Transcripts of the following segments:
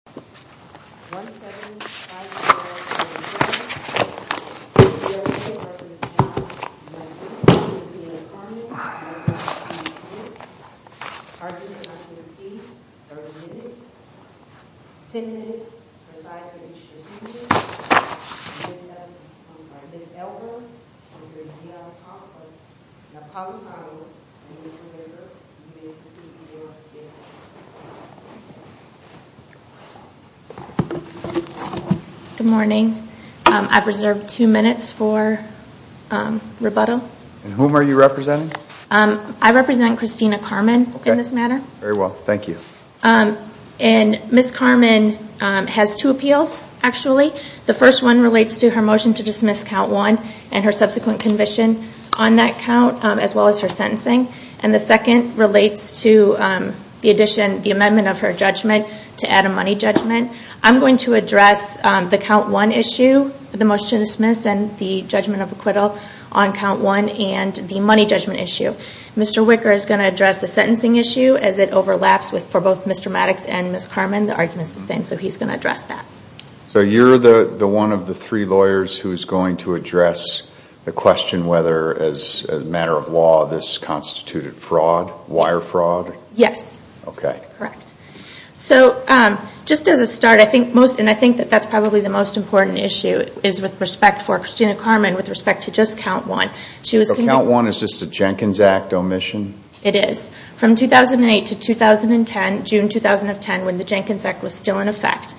1754.7 USA v. John Maddux Jr U.S.A. v. John Maddux Jr Parkinson's disease, 30 minutes 10 minutes, reside for extra 15 minutes Ms. Elber, Dr. D.L. Poplar Napolitano, Mr. Baker Good morning. I've reserved two minutes for rebuttal. And whom are you representing? I represent Christina Carman in this matter. Very well, thank you. And Ms. Carman has two appeals actually. The first one relates to her motion to dismiss count one and her subsequent conviction on that count as well as her sentencing. And the second relates to the addition the amendment of her judgment to add a money judgment. I'm going to address the count one issue, the motion to dismiss and the judgment of acquittal on count one and the money judgment issue. Mr. Wicker is going to address the sentencing issue as it overlaps for both Mr. Maddux and Ms. Carman. The argument is the same, so he's going to address that. So you're the one of the three lawyers who's going to address the question whether as a matter of law this constituted fraud, wire fraud? Yes. Okay. Correct. So just as a start, I think most, and I think that's probably the most important issue is with respect for Christina Carman with respect to just count one. So count one is just a Jenkins Act omission? It is. From 2008 to 2010, June 2010 when the Jenkins Act was still in effect,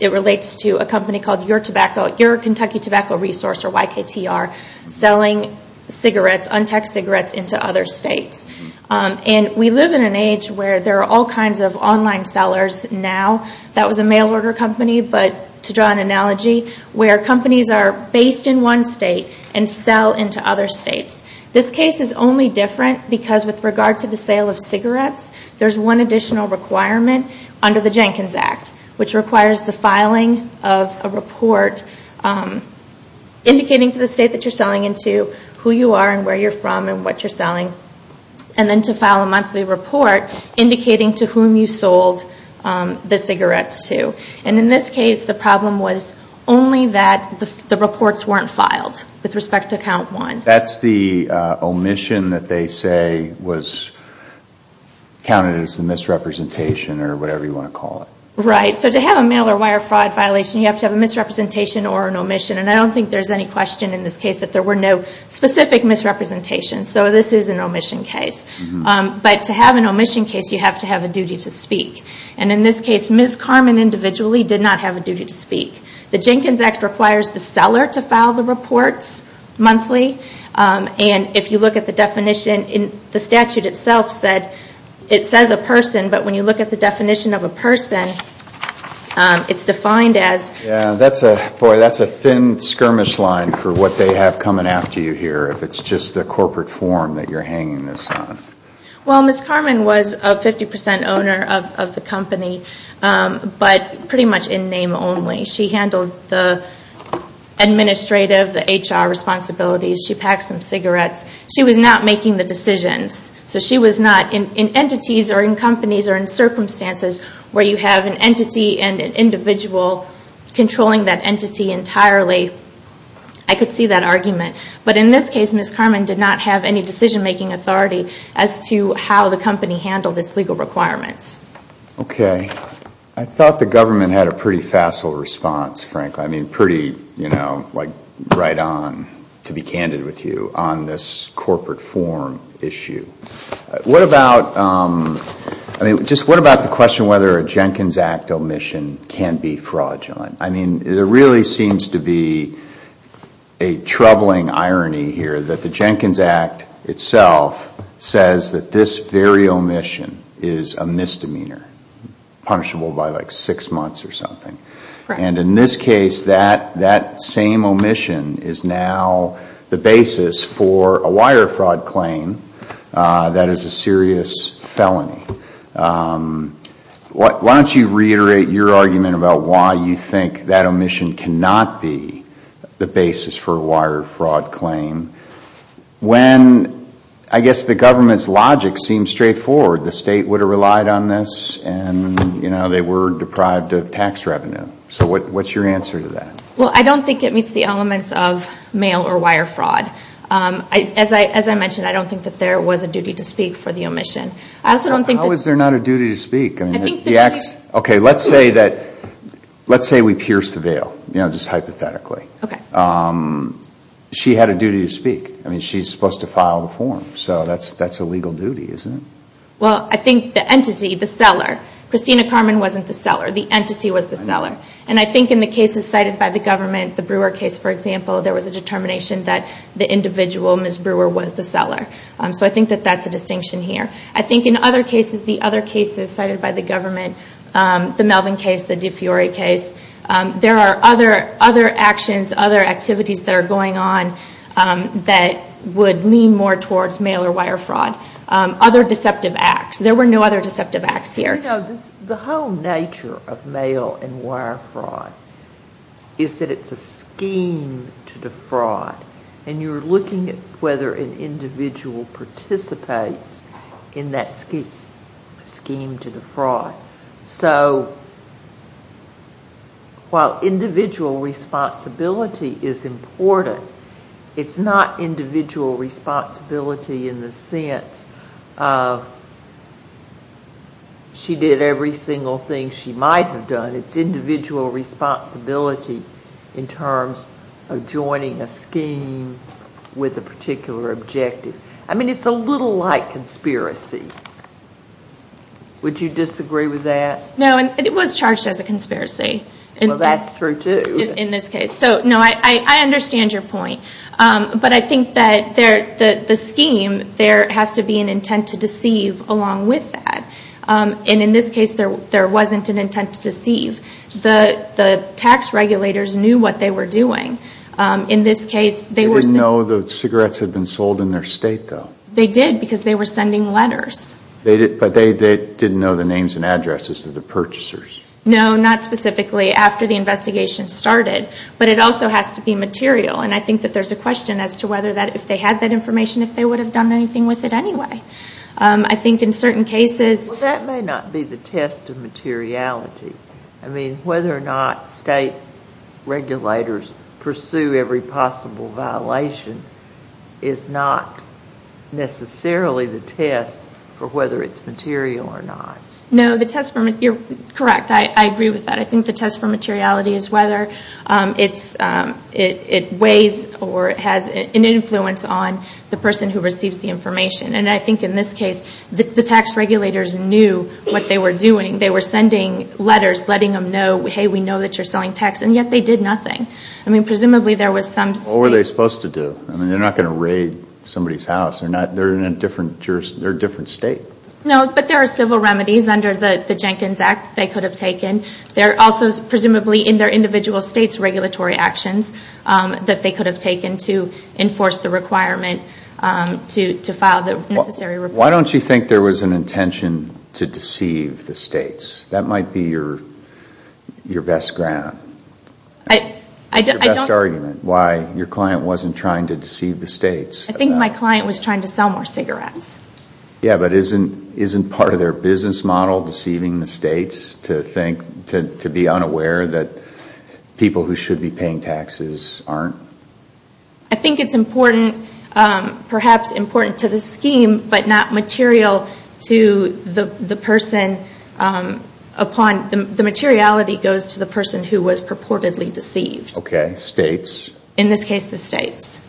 it relates to a company called Your Tobacco, Your Kentucky selling cigarettes, untaxed cigarettes into other states. And we live in an age where there are all kinds of online sellers now. That was a mail order company, but to draw an analogy where companies are based in one state and sell into other states. This case is only different because with regard to the sale of cigarettes there's one additional requirement under the Jenkins Act which requires the filing of a report indicating to the state that you're selling into who you are and where you're from and what you're selling. And then to file a monthly report indicating to whom you sold the cigarettes to. And in this case the problem was only that the reports weren't filed with respect to count one. That's the omission that they say was counted as the misrepresentation or whatever you want to call it. Right. So to have a mail or wire fraud violation you have to have a misrepresentation or an omission. And I don't think there's any question in this case that there were no specific misrepresentations. So this is an omission case. But to have an omission case you have to have a duty to speak. And in this case Ms. Carmen individually did not have a duty to speak. The Jenkins Act requires the seller to file the reports monthly and if you look at the definition in the statute itself it says a person, but when you look at the definition of a person it's defined as... Boy, that's a thin skirmish line for what they have coming after you here if it's just the corporate form that you're hanging this on. Well, Ms. Carmen was a 50% owner of the company, but pretty much in name only. She handled the administrative, the HR responsibilities. She packed some cigarettes. She was not making the decisions. So she was not in entities or in companies or in circumstances where you have an entity and an individual controlling that entity entirely. I could see that argument. But in this case Ms. Carmen did not have any decision making authority as to how the company handled its legal requirements. Okay. I thought the government had a pretty facile response, frankly. I mean pretty, you know, like right on to be candid with you on this corporate form issue. What about, I mean just what about the question whether a Jenkins Act omission can be fraudulent? I mean there really seems to be a troubling irony here that the Jenkins Act itself says that this very omission is a misdemeanor, punishable by like six months or something. And in this case that same omission is now the basis for a wire fraud claim that is a serious felony. Why don't you reiterate your argument about why you think that omission cannot be the basis for a wire fraud claim when I guess the government's logic seems straightforward. The state would have relied on this and, you know, they were deprived of tax revenue. So what's your answer to that? Well, I don't think it meets the elements of mail or wire fraud. As I mentioned, I don't think that there was a duty to speak for the omission. How is there not a duty to speak? Okay, let's say that, let's say we pierced the veil. You know, just hypothetically. Okay. She had a duty to speak. I mean she's supposed to file the form. So that's a legal duty, isn't it? Well, I think the entity, the seller, Christina Carmen wasn't the seller. The entity was the seller. And I think in the cases cited by the government, the Brewer case, for example, there was a determination that the individual, Ms. Brewer, was the seller. So I think that that's a distinction here. I think in other cases, the other cases cited by the government, the Melvin case, the DeFiori case, there are other actions, other activities that are going on that would lean more towards mail or wire fraud. Other deceptive acts. There were no other deceptive acts here. You know, the whole nature of mail and wire fraud is that it's a scheme to defraud. And you're looking at whether an individual participates in that scheme to defraud. So, while individual responsibility is important, it's not individual responsibility in the sense of she did every single thing she might have done. It's individual responsibility in terms of joining a scheme with a particular objective. I mean, it's a little like conspiracy. Would you disagree with that? No, and it was charged as a conspiracy. Well, that's true too. In this case. So, no, I understand your point. But I think that the scheme, there has to be an intent to deceive along with that. And in this case, there wasn't an intent to deceive. The tax regulators knew what they were doing. In this case, they were. They didn't know the cigarettes had been sold in their state though. They did because they were sending letters. But they didn't know the names and addresses of the purchasers. No, not specifically after the investigation started. But it also has to be material. And I think that there's a question as to whether that, if they had that information, if they would have done anything with it anyway. I think in certain cases... Well, that may not be the test of materiality. I mean, whether or not state regulators pursue every possible violation is not necessarily the test for whether it's material or not. No, the test for materiality, you're correct. I agree with that. I think the test for materiality is whether it weighs or has an influence on the person who receives the information. And I think in this case, the tax regulators knew what they were doing. They were sending letters letting them know, hey, we know that you're selling tax. And yet they did nothing. I mean, presumably there was some state... What were they supposed to do? I mean, they're not going to raid somebody's house. They're in a different state. No, but there are civil remedies under the Jenkins Act they could have taken. There are also presumably in their individual states regulatory actions that they could have taken to enforce the requirement to file the necessary report. Why don't you think there was an intention to deceive the states? That might be your best argument, why your client wasn't trying to deceive the states. I think my client was trying to sell more cigarettes. Yeah, but isn't part of their business model deceiving the states to be unaware that people who should be paying taxes aren't? I think it's important, perhaps important to the scheme, but not material to the person upon... The materiality goes to the person who was purportedly deceived. Okay, states. In this case, the states.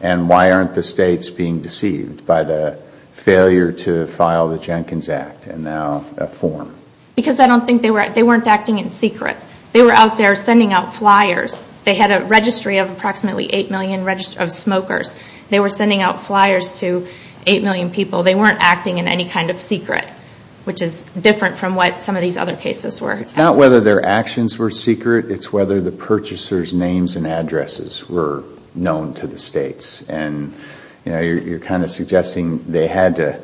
And why aren't the states being deceived by the failure to file the Jenkins Act and now a form? Because they weren't acting in secret. They were out there sending out flyers. They had a registry of approximately 8 million smokers. They were sending out flyers to 8 million people. They weren't acting in any kind of secret, which is different from what some of these other cases were. It's not whether their actions were secret, it's whether the purchasers' names and addresses were known to the states. You're kind of suggesting they had to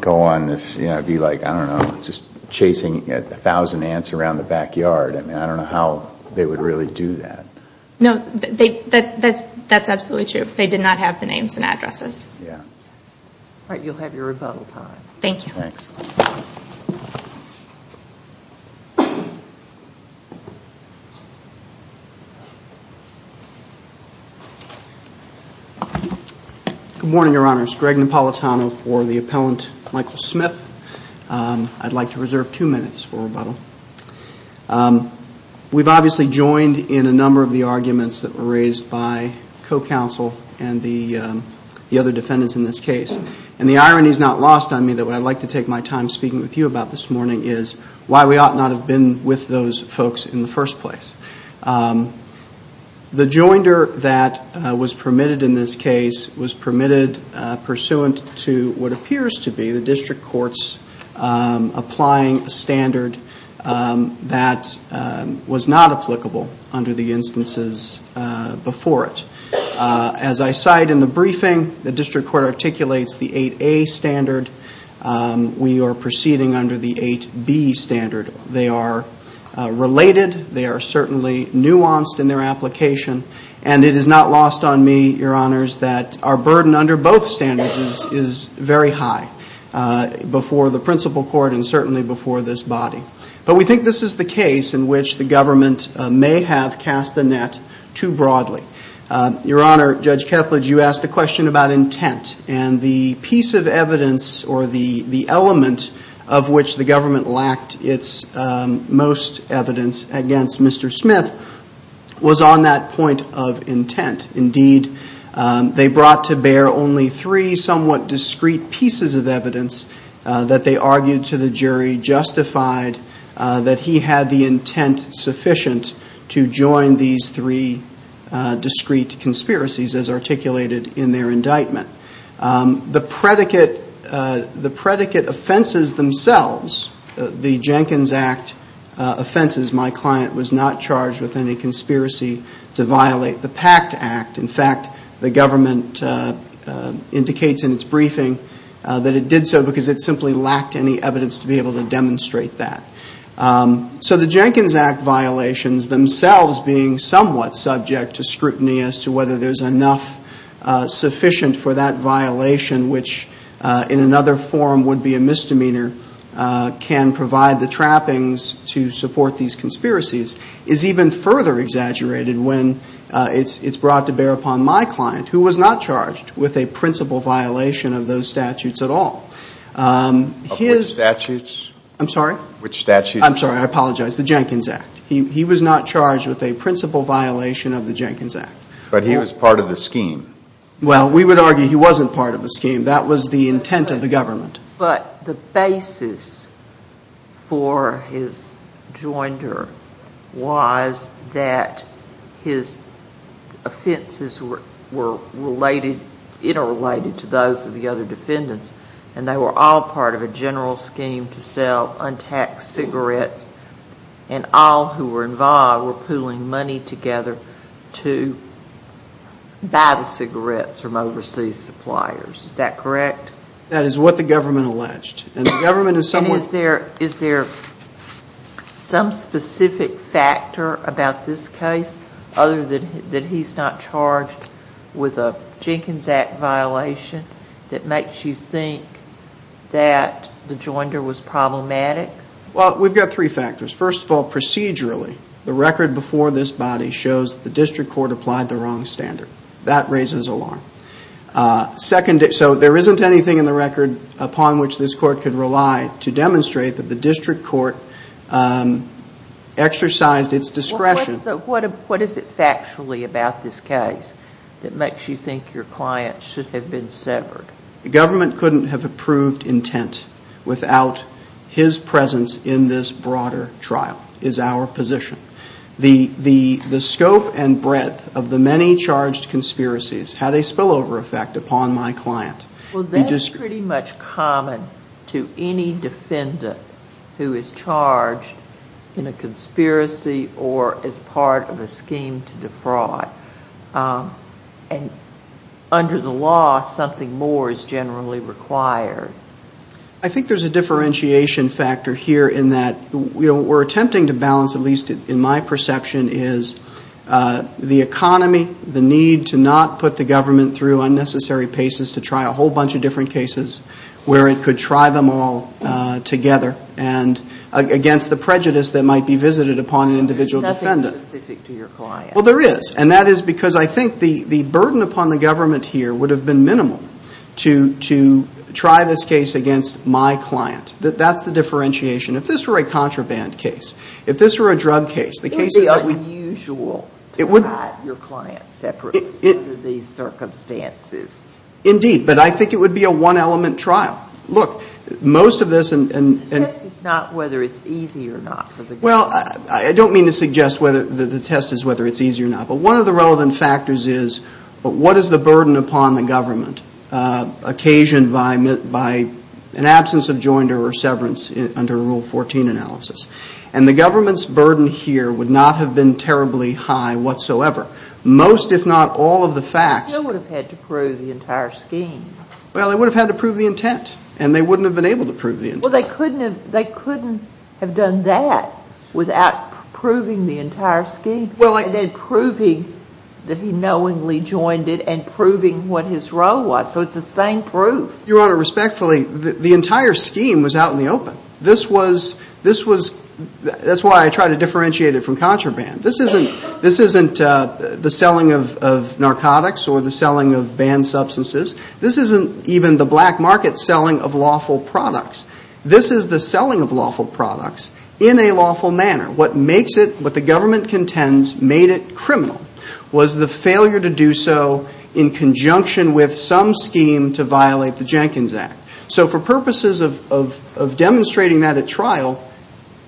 go on this, be like, I don't know, just chasing a thousand ants around the backyard. I don't know how they would really do that. No, that's absolutely true. They did not have the names and addresses. All right, you'll have your rebuttal time. Thank you. Thanks. Good morning, Your Honors. Greg Napolitano for the appellant, Michael Smith. I'd like to reserve two minutes for rebuttal. We've obviously joined in a number of the arguments that were raised by co-counsel and the other defendants in this case. And the irony is not lost on me that what I'd like to take my time speaking with you about this morning is why we ought not have been with those folks in the first place. The joinder that was permitted in this case was permitted pursuant to what appears to be the district court's applying standard that was not applicable under the instances before it. As I cite in the briefing, the district court articulates the 8A standard. We are proceeding under the 8B standard. They are related. They are certainly nuanced in their application. And it is not lost on me, Your Honors, that our burden under both standards is very high before the principal court and certainly before this body. But we think this is the case in which the government may have cast the net too broadly. Your Honor, Judge Kethledge, you asked a question about intent. And the piece of evidence or the element of which the government lacked its most evidence against Mr. Smith was on that point of intent. Indeed, they brought to bear only three somewhat discreet pieces of evidence that they argued to the jury justified that he had the intent sufficient to join these three discreet conspiracies as articulated in their indictment. The predicate offenses themselves, the Jenkins Act offenses, my client was not charged with any conspiracy to violate the Pact Act. In fact, the government indicates in its briefing that it did so because it simply lacked any evidence to be able to demonstrate that. So the Jenkins Act violations themselves being somewhat subject to scrutiny as to whether there is enough sufficient for that violation, which in another form would be a misdemeanor can provide the trappings to support these conspiracies, is even further exaggerated when it's brought to bear upon my client, who was not charged with a principal violation of those statutes at all. Which statutes? I'm sorry? Which statutes? I'm sorry, I apologize. The Jenkins Act. He was not charged with a principal violation of the Jenkins Act. But he was part of the scheme. Well, we would argue he wasn't part of the scheme. That was the intent of the government. But the basis for his joinder was that his offenses were interrelated to those of the other defendants and they were all part of a general scheme to sell untaxed cigarettes and all who were involved were pooling money together to buy the cigarettes from overseas suppliers. Is that correct? That is what the government alleged. Is there some specific factor about this case other than that he's not charged with a Jenkins Act violation that makes you think that the joinder was problematic? Well, we've got three factors. First of all, procedurally, the record before this body shows the district court applied the wrong standard. That raises alarm. Second, so there isn't anything in the record upon which this court could rely to demonstrate that the district court exercised its discretion. What is it factually about this case that makes you think your client should have been severed? The government couldn't have approved intent without his presence in this broader trial is our position. The scope and breadth of the many charged conspiracies had a spillover effect upon my client. Well, that is pretty much common to any defendant who is charged in a conspiracy or as part of a scheme to defraud. And under the law, something more is generally required. I think there's a differentiation factor here in that we're attempting to balance, at least in my perception, is the economy, the need to not put the government through unnecessary paces to try a whole bunch of different cases where it could try them all together and against the prejudice that might be visited upon an individual defendant. There's nothing specific to your client. Well, there is. And that is because I think the burden upon the government here would have been minimal to try this case against my client. That's the differentiation. If this were a contraband case, if this were a drug case, the cases that we ---- It would be unusual to try your client separately under these circumstances. Indeed. But I think it would be a one-element trial. Look, most of this and ---- The test is not whether it's easy or not for the government. Well, I don't mean to suggest whether the test is whether it's easy or not. But one of the relevant factors is what is the burden upon the government occasioned by an absence of joinder or severance under Rule 14 analysis? And the government's burden here would not have been terribly high whatsoever. Most, if not all, of the facts ---- They still would have had to prove the entire scheme. Well, they would have had to prove the intent, and they wouldn't have been able to prove the intent. Well, they couldn't have done that without proving the entire scheme. Well, I ---- And then proving that he knowingly joined it and proving what his role was. So it's the same proof. Your Honor, respectfully, the entire scheme was out in the open. This was ---- That's why I try to differentiate it from contraband. This isn't the selling of narcotics or the selling of banned substances. This isn't even the black market selling of lawful products. This is the selling of lawful products in a lawful manner. What makes it ---- What the government contends made it criminal was the failure to do so in conjunction with some scheme to violate the Jenkins Act. So for purposes of demonstrating that at trial,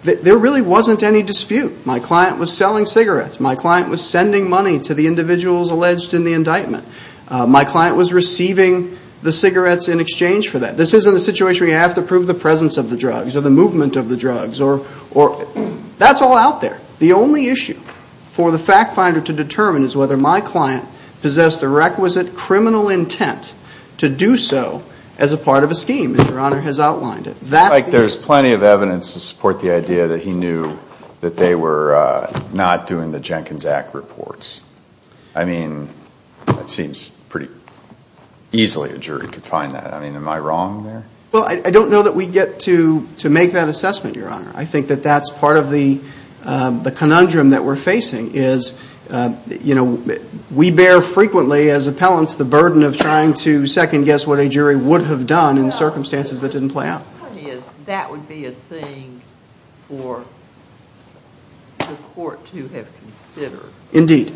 there really wasn't any dispute. My client was selling cigarettes. My client was sending money to the individuals alleged in the indictment. My client was receiving the cigarettes in exchange for that. This isn't a situation where you have to prove the presence of the drugs or the movement of the drugs or ---- That's all out there. The only issue for the fact finder to determine is whether my client possessed the requisite criminal intent to do so as a part of a scheme, as Your Honor has outlined it. That's the issue. It looks like there's plenty of evidence to support the idea that he knew that they were not doing the Jenkins Act reports. I mean, it seems pretty easily a jury could find that. I mean, am I wrong there? Well, I don't know that we get to make that assessment, Your Honor. I think that that's part of the conundrum that we're facing is, you know, we bear frequently as appellants the burden of trying to second guess what a jury would have done in circumstances that didn't play out. The point is that would be a thing for the court to have considered. Indeed.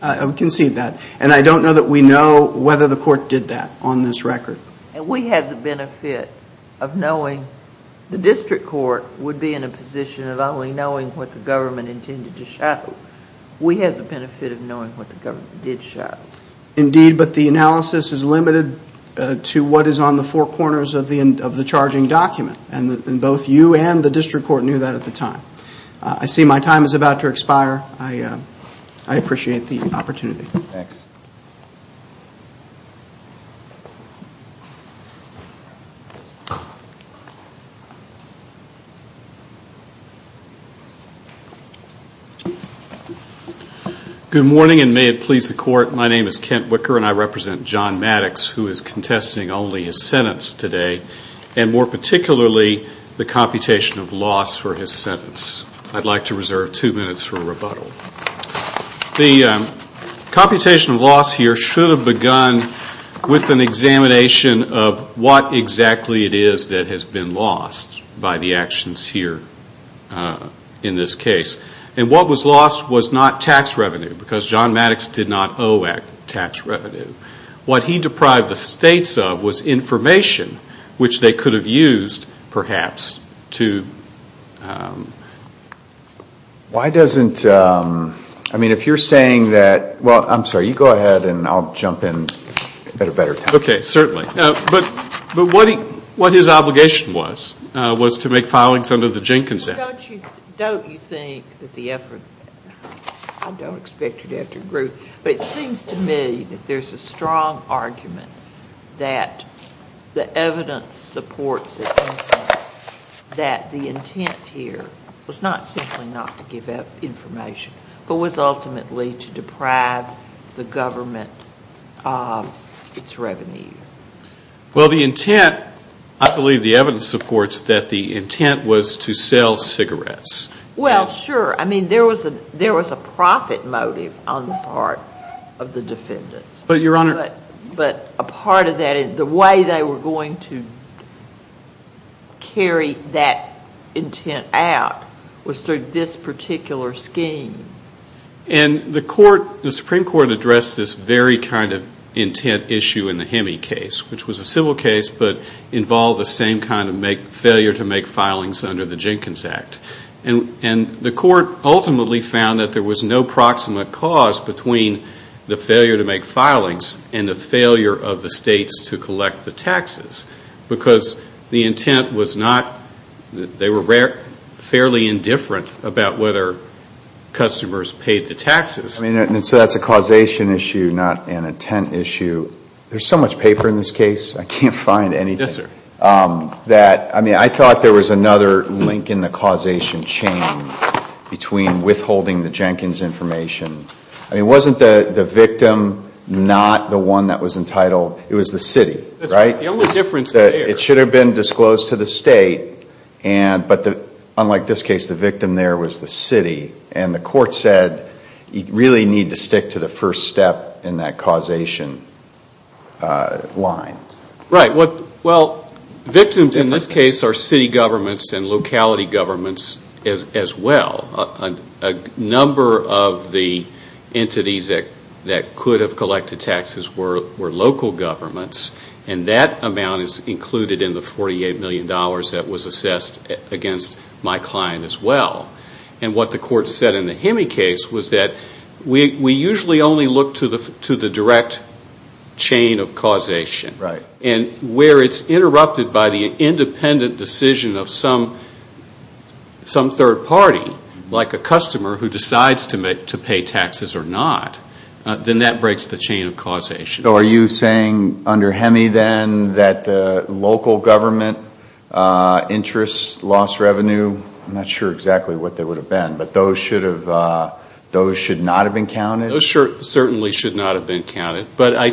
I concede that. And I don't know that we know whether the court did that on this record. And we had the benefit of knowing the district court would be in a position of only knowing what the government intended to show. We had the benefit of knowing what the government did show. Indeed, but the analysis is limited to what is on the four corners of the charging document. And both you and the district court knew that at the time. I see my time is about to expire. I appreciate the opportunity. Thanks. Good morning, and may it please the court. My name is Kent Wicker, and I represent John Maddox, who is contesting only his sentence today, and more particularly the computation of loss for his sentence. I'd like to reserve two minutes for rebuttal. The computation of loss here should have begun with an examination of what exactly it is that has been lost by the actions here in this case. And what was lost was not tax revenue, because John Maddox did not owe tax revenue. What he deprived the states of was information which they could have used, perhaps, to Why doesn't, I mean, if you're saying that, well, I'm sorry, you go ahead and I'll jump in at a better time. Okay, certainly. But what his obligation was, was to make filings under the Jenkins Act. Don't you think that the effort, I don't expect you to have to agree, but it seems to me that there's a strong argument that the evidence supports it, that the intent here was not simply not to give out information, but was ultimately to deprive the government of its revenue. Well, the intent, I believe the evidence supports that the intent was to sell cigarettes. Well, sure. I mean, there was a profit motive on the part of the defendants. But, Your Honor to carry that intent out was through this particular scheme. And the Supreme Court addressed this very kind of intent issue in the Hemme case, which was a civil case, but involved the same kind of failure to make filings under the Jenkins Act. And the court ultimately found that there was no proximate cause between the failure to make filings and the failure of the states to collect the taxes. Because the intent was not, they were fairly indifferent about whether customers paid the taxes. I mean, so that's a causation issue, not an intent issue. There's so much paper in this case, I can't find anything. Yes, sir. I mean, I thought there was another link in the causation chain between withholding the Jenkins information. I mean, wasn't the victim not the one that was entitled? It was the city, right? The only difference there. It should have been disclosed to the state, but unlike this case, the victim there was the city. And the court said you really need to stick to the first step in that causation line. Right. Well, victims in this case are city governments and locality governments as well. A number of the entities that could have collected taxes were local governments, and that amount is included in the $48 million that was assessed against my client as well. And what the court said in the Hemme case was that we usually only look to the direct chain of causation. Right. And where it's interrupted by the independent decision of some third party, like a customer who decides to pay taxes or not, then that breaks the chain of causation. So are you saying under Hemme then that the local government interests lost revenue? I'm not sure exactly what they would have been, but those should not have been counted? Those certainly should not have been counted. But I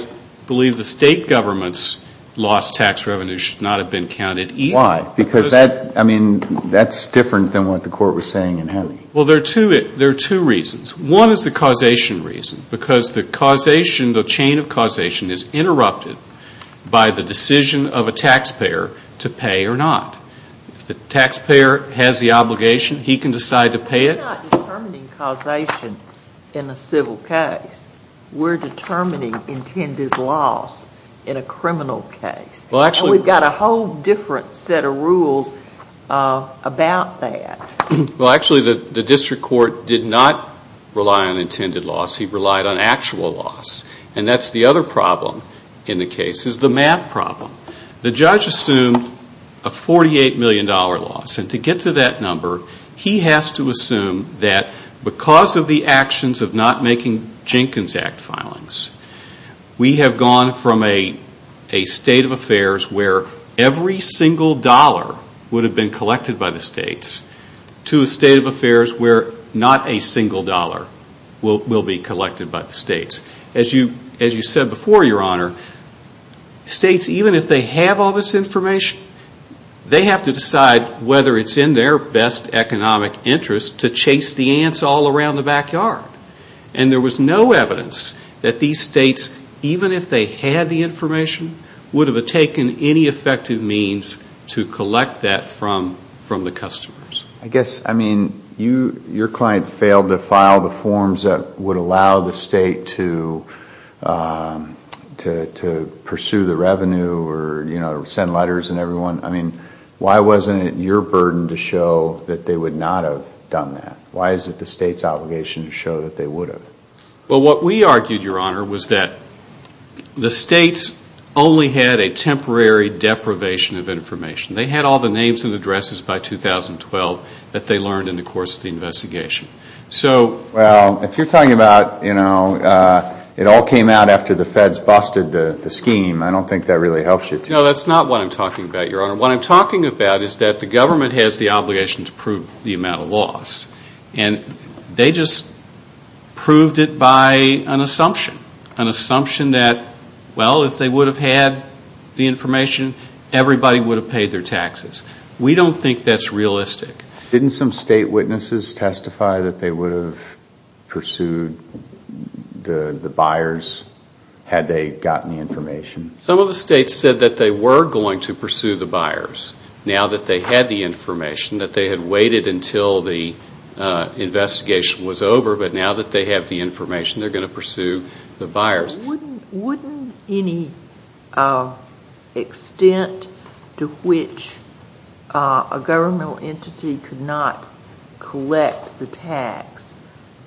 believe the state government's lost tax revenue should not have been counted either. Why? Because that's different than what the court was saying in Hemme. Well, there are two reasons. One is the causation reason because the causation, the chain of causation, is interrupted by the decision of a taxpayer to pay or not. If the taxpayer has the obligation, he can decide to pay it. We're not determining causation in a civil case. We're determining intended loss in a criminal case. And we've got a whole different set of rules about that. Well, actually, the district court did not rely on intended loss. He relied on actual loss. And that's the other problem in the case is the math problem. The judge assumed a $48 million loss. And to get to that number, he has to assume that because of the actions of not making Jenkins Act filings, we have gone from a state of affairs where every single dollar would have been collected by the states to a state of affairs where not a single dollar will be collected by the states. As you said before, Your Honor, states, even if they have all this information, they have to decide whether it's in their best economic interest to chase the ants all around the backyard. And there was no evidence that these states, even if they had the information, would have taken any effective means to collect that from the customers. I guess, I mean, your client failed to file the forms that would allow the state to pursue the revenue or send letters and everyone. I mean, why wasn't it your burden to show that they would not have done that? Why is it the state's obligation to show that they would have? Well, what we argued, Your Honor, was that the states only had a temporary deprivation of information. They had all the names and addresses by 2012 that they learned in the course of the investigation. Well, if you're talking about, you know, it all came out after the feds busted the scheme, I don't think that really helps you. No, that's not what I'm talking about, Your Honor. What I'm talking about is that the government has the obligation to prove the amount of loss. And they just proved it by an assumption, an assumption that, well, if they would have had the information, everybody would have paid their taxes. We don't think that's realistic. Didn't some state witnesses testify that they would have pursued the buyers had they gotten the information? Some of the states said that they were going to pursue the buyers now that they had the information, that they had waited until the investigation was over, but now that they have the information, they're going to pursue the buyers. Wouldn't any extent to which a governmental entity could not collect the tax,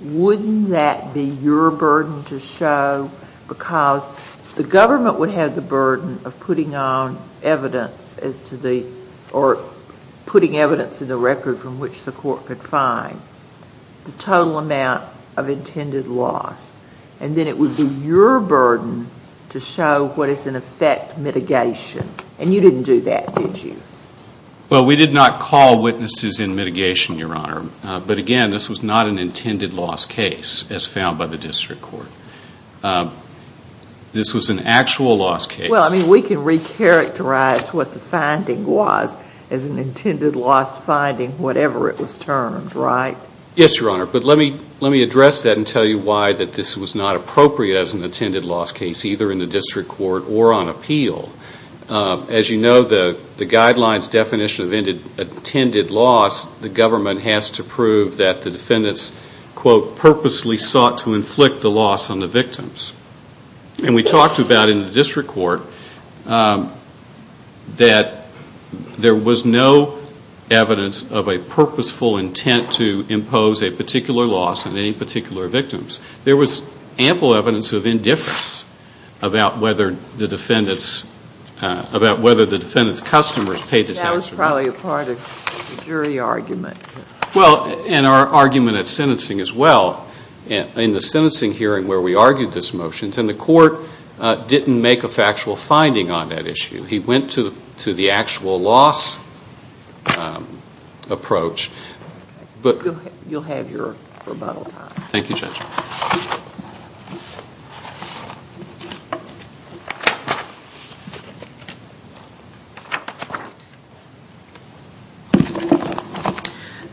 wouldn't that be your burden to show? Because the government would have the burden of putting on evidence as to the, or putting evidence in the record from which the court could find the total amount of intended loss. And then it would be your burden to show what is in effect mitigation. And you didn't do that, did you? Well, we did not call witnesses in mitigation, Your Honor. But again, this was not an intended loss case as found by the district court. This was an actual loss case. Well, I mean, we can recharacterize what the finding was as an intended loss finding, whatever it was termed, right? Yes, Your Honor. But let me address that and tell you why this was not appropriate as an intended loss case, either in the district court or on appeal. As you know, the guidelines definition of intended loss, the government has to prove that the defendants, quote, purposely sought to inflict the loss on the victims. And we talked about in the district court that there was no evidence of a purposeful intent to impose a particular loss on any particular victims. There was ample evidence of indifference about whether the defendant's customers paid attention. That was probably a part of the jury argument. Well, and our argument at sentencing as well. In the sentencing hearing where we argued this motion, the court didn't make a factual finding on that issue. He went to the actual loss approach. You'll have your rebuttal time. Thank you, Judge.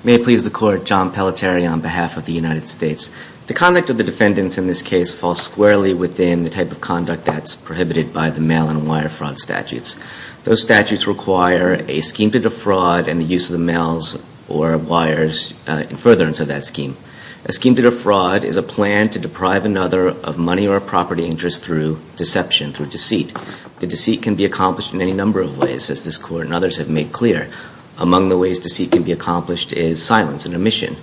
May it please the Court, John Pelletier on behalf of the United States. The conduct of the defendants in this case falls squarely within the type of conduct that's prohibited by the mail and wire fraud statutes. Those statutes require a scheme to defraud and the use of the mails or wires in furtherance of that scheme. A scheme to defraud is a plan to deprive another of money or property interest through deception, through deceit. The deceit can be accomplished in any number of ways, as this Court and others have made clear. Among the ways deceit can be accomplished is silence and omission.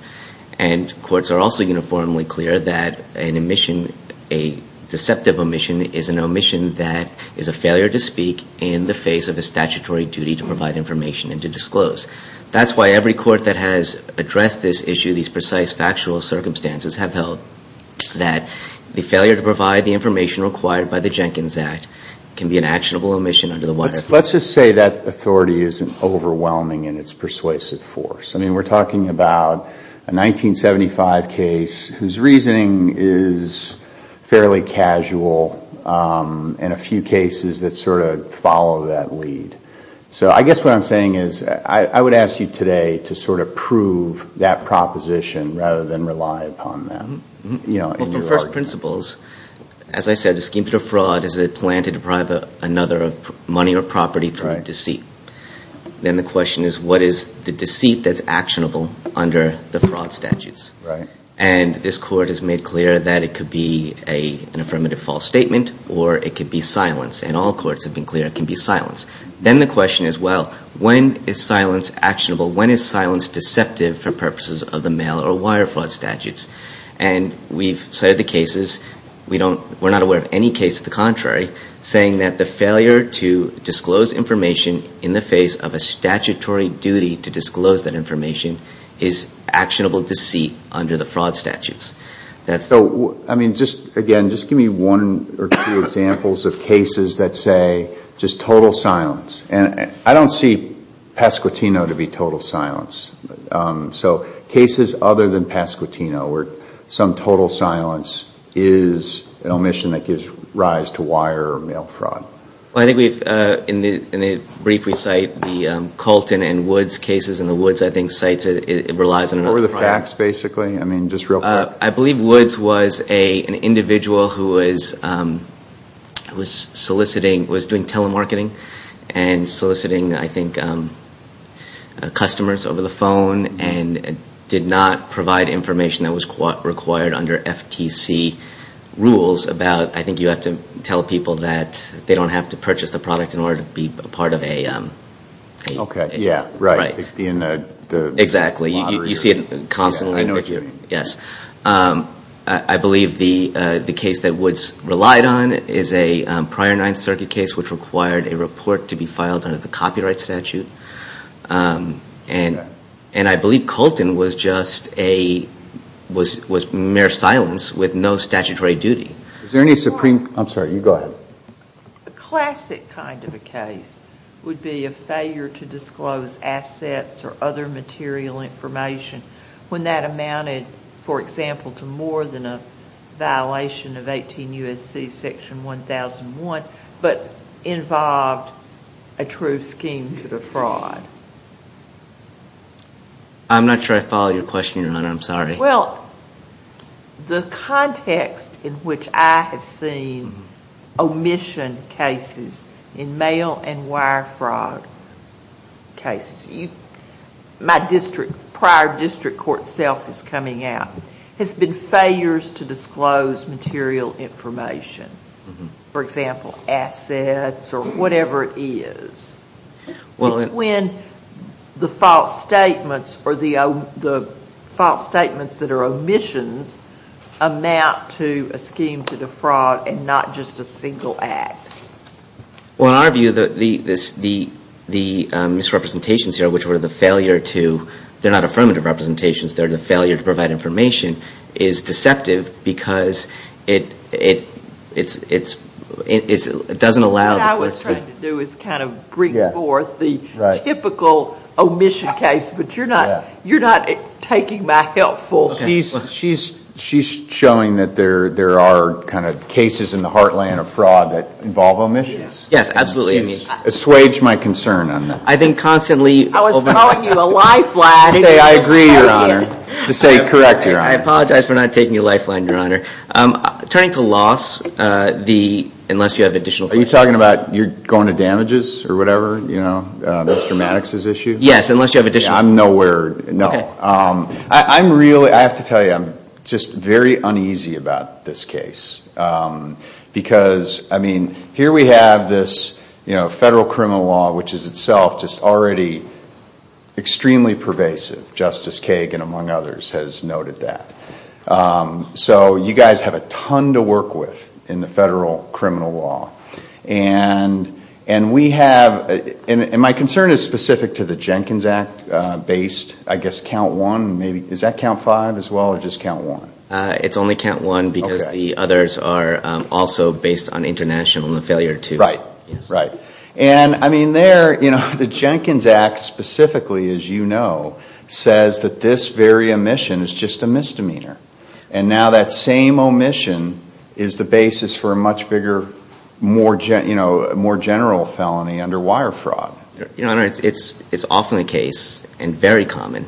And courts are also uniformly clear that an omission, a deceptive omission, is an omission that is a failure to speak in the face of a statutory duty to provide information and to disclose. That's why every court that has addressed this issue, these precise factual circumstances, have held that the failure to provide the information required by the Jenkins Act can be an actionable omission under the wire fraud statute. Let's just say that authority isn't overwhelming in its persuasive force. I mean, we're talking about a 1975 case whose reasoning is fairly casual and a few cases that sort of follow that lead. So I guess what I'm saying is I would ask you today to sort of prove that proposition rather than rely upon that. Well, from first principles, as I said, a scheme to defraud is a plan to deprive another of money or property through deceit. Then the question is what is the deceit that's actionable under the fraud statutes? Right. And this court has made clear that it could be an affirmative false statement or it could be silence. And all courts have been clear it can be silence. Then the question is, well, when is silence actionable? When is silence deceptive for purposes of the mail or wire fraud statutes? And we've cited the cases. We're not aware of any case to the contrary saying that the failure to disclose information in the face of a statutory duty to disclose that information is actionable deceit under the fraud statutes. So, I mean, just again, just give me one or two examples of cases that say just total silence. And I don't see Pasquitino to be total silence. So cases other than Pasquitino where some total silence is an omission that gives rise to wire or mail fraud. Well, I think in the brief we cite the Colton and Woods cases and the Woods I think cites it relies on another product. What were the facts, basically? I mean, just real quick. I believe Woods was an individual who was soliciting, was doing telemarketing and soliciting, I think, customers over the phone and did not provide information that was required under FTC rules about, I think you have to tell people that they don't have to purchase the product in order to be part of a. Okay, yeah, right. Exactly. You see it constantly. Yes. I believe the case that Woods relied on is a prior Ninth Circuit case which required a report to be filed under the copyright statute. And I believe Colton was just a, was mere silence with no statutory duty. Is there any supreme, I'm sorry, you go ahead. A classic kind of a case would be a failure to disclose assets or other material information when that amounted, for example, to more than a violation of 18 U.S.C. section 1001 but involved a true scheme to the fraud. I'm not sure I follow your question, Your Honor. I'm sorry. Well, the context in which I have seen omission cases in mail and wire fraud cases, my district, prior district court self is coming out, has been failures to disclose material information. For example, assets or whatever it is. It's when the false statements or the false statements that are omissions amount to a scheme to defraud and not just a single act. Well, in our view, the misrepresentations here, which were the failure to, they're not affirmative representations, they're the failure to provide information, is deceptive because it doesn't allow the question. What I was trying to do is kind of bring forth the typical omission case, but you're not taking my helpful. She's showing that there are kind of cases in the heartland of fraud that involve omissions. Yes, absolutely. You've assuaged my concern on that. I've been constantly. I was calling you a lifeline. I agree, Your Honor, to say correct, Your Honor. I apologize for not taking your lifeline, Your Honor. Turning to loss, unless you have additional questions. Are you talking about you're going to damages or whatever, Mr. Maddox's issue? Yes, unless you have additional questions. I'm nowhere. No. I'm really, I have to tell you, I'm just very uneasy about this case because, I mean, here we have this federal criminal law, which is itself just already extremely pervasive. Justice Kagan, among others, has noted that. So you guys have a ton to work with in the federal criminal law. And we have, and my concern is specific to the Jenkins Act-based, I guess, count one. Is that count five as well or just count one? It's only count one because the others are also based on international and the failure to. Right, right. And, I mean, there, you know, the Jenkins Act specifically, as you know, says that this very omission is just a misdemeanor. And now that same omission is the basis for a much bigger, more general felony under wire fraud. Your Honor, it's often the case and very common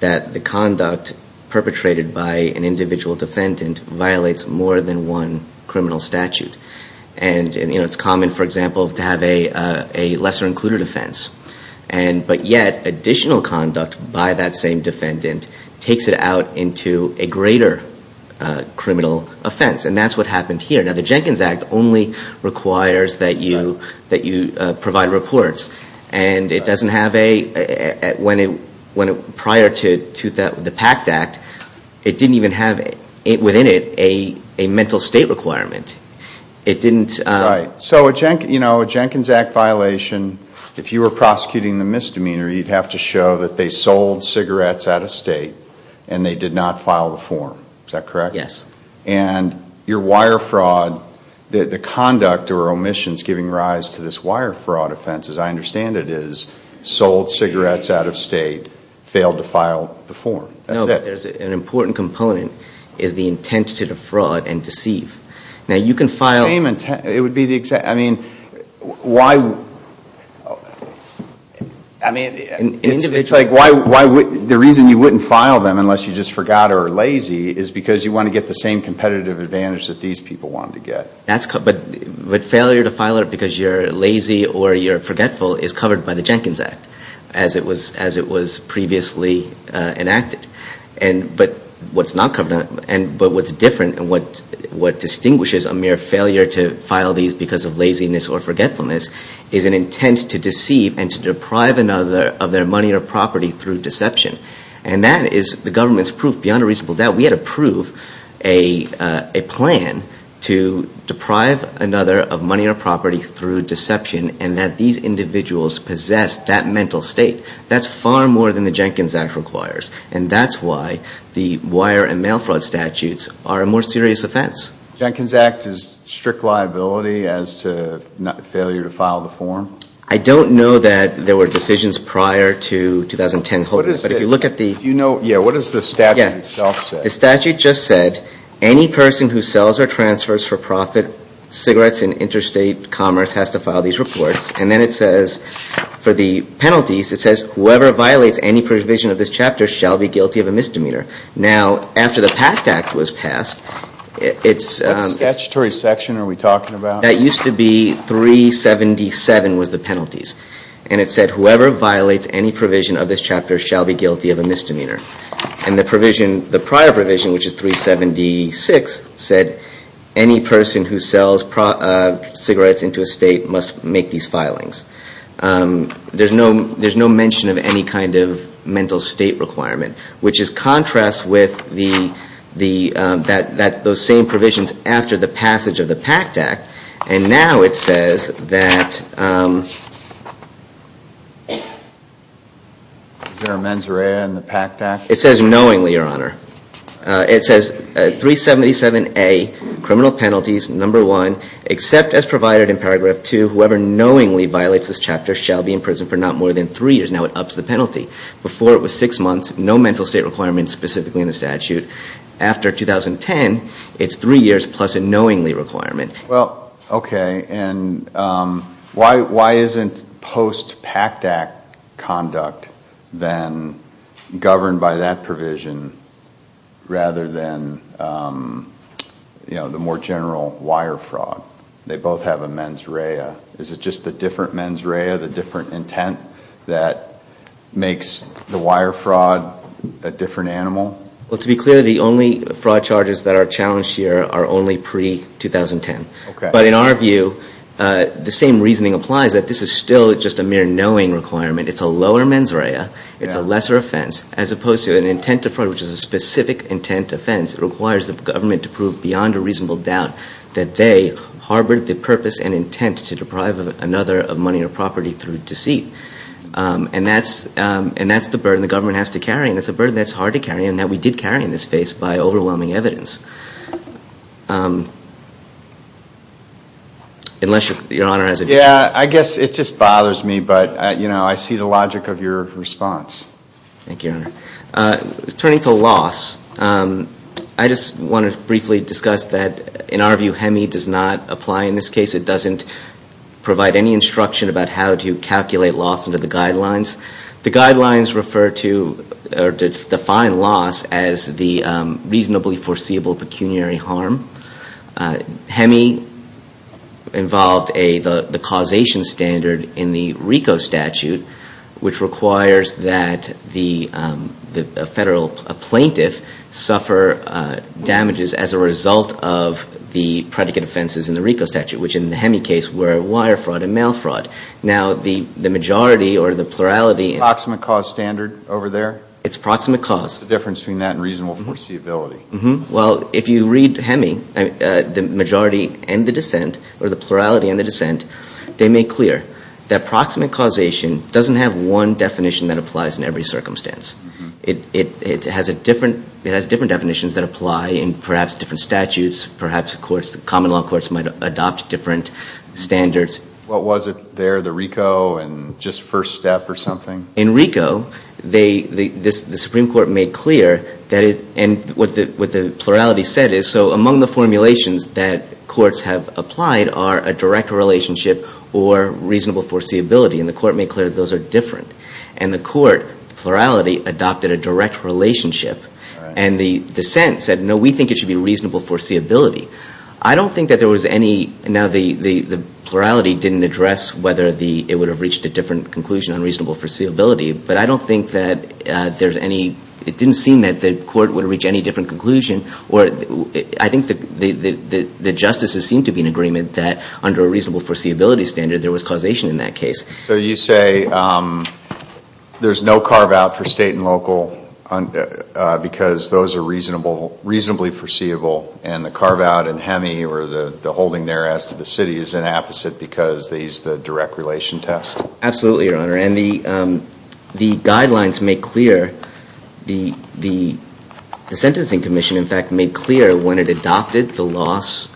that the conduct perpetrated by an individual defendant violates more than one criminal statute. And, you know, it's common, for example, to have a lesser included offense. But yet additional conduct by that same defendant takes it out into a greater criminal offense. And that's what happened here. Now, the Jenkins Act only requires that you provide reports. And it doesn't have a, when it, prior to the PACT Act, it didn't even have within it a mental state requirement. It didn't. Right. So, you know, a Jenkins Act violation, if you were prosecuting the misdemeanor, you'd have to show that they sold cigarettes out of state and they did not file the form. Is that correct? Yes. And your wire fraud, the conduct or omissions giving rise to this wire fraud offense, as I understand it, is sold cigarettes out of state, failed to file the form. That's it. No, but there's an important component, is the intent to defraud and deceive. Now, you can file. Same intent. It would be the exact, I mean, why, I mean, it's like why, the reason you wouldn't file them unless you just forgot or lazy is because you want to get the same competitive advantage that these people wanted to get. But failure to file it because you're lazy or you're forgetful is covered by the Jenkins Act, as it was previously enacted. But what's different and what distinguishes a mere failure to file these because of laziness or forgetfulness is an intent to deceive and to deprive another of their money or property through deception. And that is the government's proof beyond a reasonable doubt. We had to prove a plan to deprive another of money or property through deception and that these individuals possessed that mental state. That's far more than the Jenkins Act requires. And that's why the wire and mail fraud statutes are a more serious offense. Jenkins Act is strict liability as to failure to file the form? I don't know that there were decisions prior to 2010. But if you look at the. If you know, yeah, what does the statute itself say? The statute just said any person who sells or transfers for profit cigarettes in interstate commerce has to file these reports. And then it says for the penalties, it says whoever violates any provision of this chapter shall be guilty of a misdemeanor. Now, after the PACT Act was passed, it's. What statutory section are we talking about? That used to be 377 was the penalties. And it said whoever violates any provision of this chapter shall be guilty of a misdemeanor. And the provision, the prior provision, which is 376, said any person who sells cigarettes into a state must make these filings. There's no there's no mention of any kind of mental state requirement, which is contrast with the the that that those same provisions after the passage of the PACT Act. And now it says that there are mens rea and the PACT Act. It says knowingly your honor. It says 377 a criminal penalties. Number one, except as provided in paragraph two, whoever knowingly violates this chapter shall be in prison for not more than three years. Now it ups the penalty before it was six months. No mental state requirements specifically in the statute after 2010. It's three years plus a knowingly requirement. Well, OK. And why why isn't post PACT Act conduct then governed by that provision rather than, you know, the more general wire fraud? They both have a mens rea. Is it just the different mens rea, the different intent that makes the wire fraud a different animal? Well, to be clear, the only fraud charges that are challenged here are only pre 2010. But in our view, the same reasoning applies that this is still just a mere knowing requirement. It's a lower mens rea. It's a lesser offense as opposed to an intent to fraud, which is a specific intent offense. It requires the government to prove beyond a reasonable doubt that they harbored the purpose and intent to deprive another of money or property through deceit. And that's and that's the burden the government has to carry. And it's a burden that's hard to carry and that we did carry in this case by overwhelming evidence. Unless your honor has it. Yeah, I guess it just bothers me. But, you know, I see the logic of your response. Thank you. Turning to loss. I just want to briefly discuss that in our view, HEMI does not apply in this case. It doesn't provide any instruction about how to calculate loss under the guidelines. The guidelines refer to or define loss as the reasonably foreseeable pecuniary harm. HEMI involved the causation standard in the RICO statute, which requires that the federal plaintiff suffer damages as a result of the predicate offenses in the RICO statute, which in the HEMI case were wire fraud and mail fraud. Now, the majority or the plurality. Proximate cause standard over there. It's proximate cause. The difference between that and reasonable foreseeability. Well, if you read HEMI, the majority and the dissent or the plurality and the dissent, they make clear that proximate causation doesn't have one definition that applies in every circumstance. It has different definitions that apply in perhaps different statutes. Perhaps common law courts might adopt different standards. What was it there? The RICO and just first step or something? In RICO, the Supreme Court made clear, and what the plurality said is, so among the formulations that courts have applied are a direct relationship or reasonable foreseeability. And the court made clear those are different. And the court, the plurality, adopted a direct relationship. And the dissent said, no, we think it should be reasonable foreseeability. I don't think that there was any. Now, the plurality didn't address whether it would have reached a different conclusion on reasonable foreseeability. But I don't think that there's any. It didn't seem that the court would reach any different conclusion. I think the justices seemed to be in agreement that under a reasonable foreseeability standard, there was causation in that case. So you say there's no carve out for state and local because those are reasonably foreseeable. And the carve out in HEMI or the holding there as to the city is an opposite because these, the direct relation test? Absolutely, Your Honor. And the guidelines make clear, the Sentencing Commission, in fact, made clear when it adopted the loss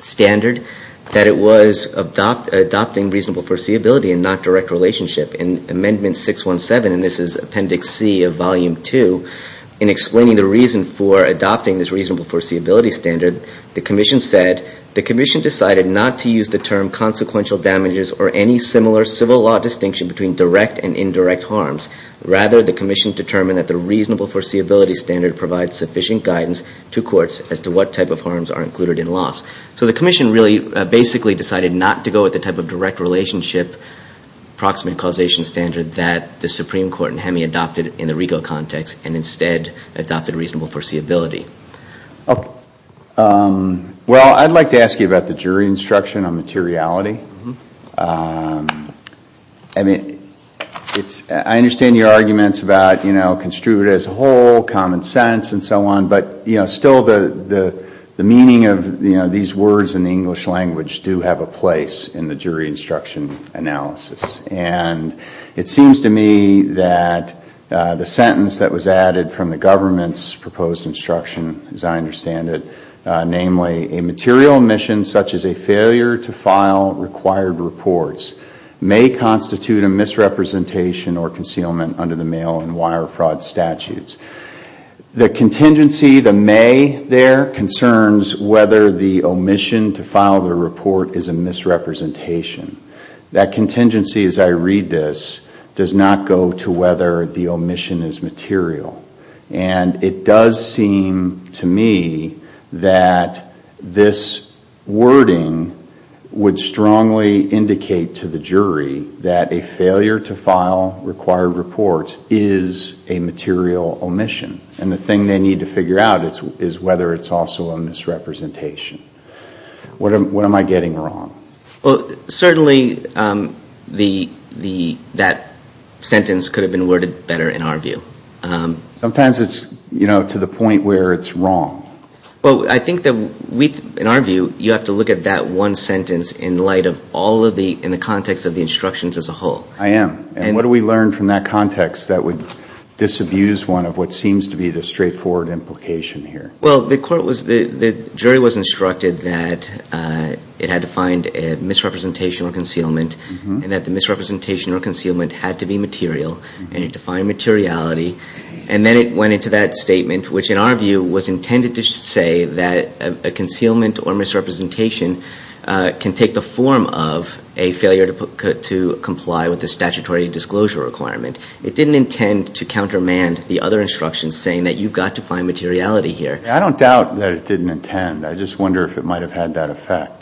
standard that it was adopting reasonable foreseeability and not direct relationship. In Amendment 617, and this is Appendix C of Volume 2, in explaining the reason for adopting this reasonable foreseeability standard, the Commission said, the Commission decided not to use the term consequential damages or any similar civil law distinction between direct and indirect harms. Rather, the Commission determined that the reasonable foreseeability standard provides sufficient guidance to courts as to what type of harms are included in loss. So the Commission really basically decided not to go with the type of direct relationship approximate causation standard that the Supreme Court in HEMI adopted in the RICO context and instead adopted reasonable foreseeability. Well, I'd like to ask you about the jury instruction on materiality. I mean, it's, I understand your arguments about, you know, construed as a whole, common sense and so on, but, you know, still the meaning of these words in the English language do have a place in the jury instruction analysis. And it seems to me that the sentence that was added from the government's proposed instruction, as I understand it, namely, a material omission such as a failure to file required reports may constitute a misrepresentation or concealment under the mail and wire fraud statutes. The contingency, the may there, concerns whether the omission to file the report is a misrepresentation. That contingency, as I read this, does not go to whether the omission is material. And it does seem to me that this wording would strongly indicate to the jury that a failure to file required reports is a material omission. And the thing they need to figure out is whether it's also a misrepresentation. What am I getting wrong? Well, certainly the, that sentence could have been worded better in our view. Sometimes it's, you know, to the point where it's wrong. Well, I think that we, in our view, you have to look at that one sentence in light of all of the, in the context of the instructions as a whole. I am. And what do we learn from that context that would disabuse one of what seems to be the straightforward implication here? Well, the court was, the jury was instructed that it had to find a misrepresentation or concealment. And that the misrepresentation or concealment had to be material and it defined materiality. And then it went into that statement, which in our view was intended to say that a concealment or misrepresentation can take the form of a failure to comply with the statutory disclosure requirement. It didn't intend to countermand the other instructions saying that you've got to find materiality here. I don't doubt that it didn't intend. I just wonder if it might have had that effect.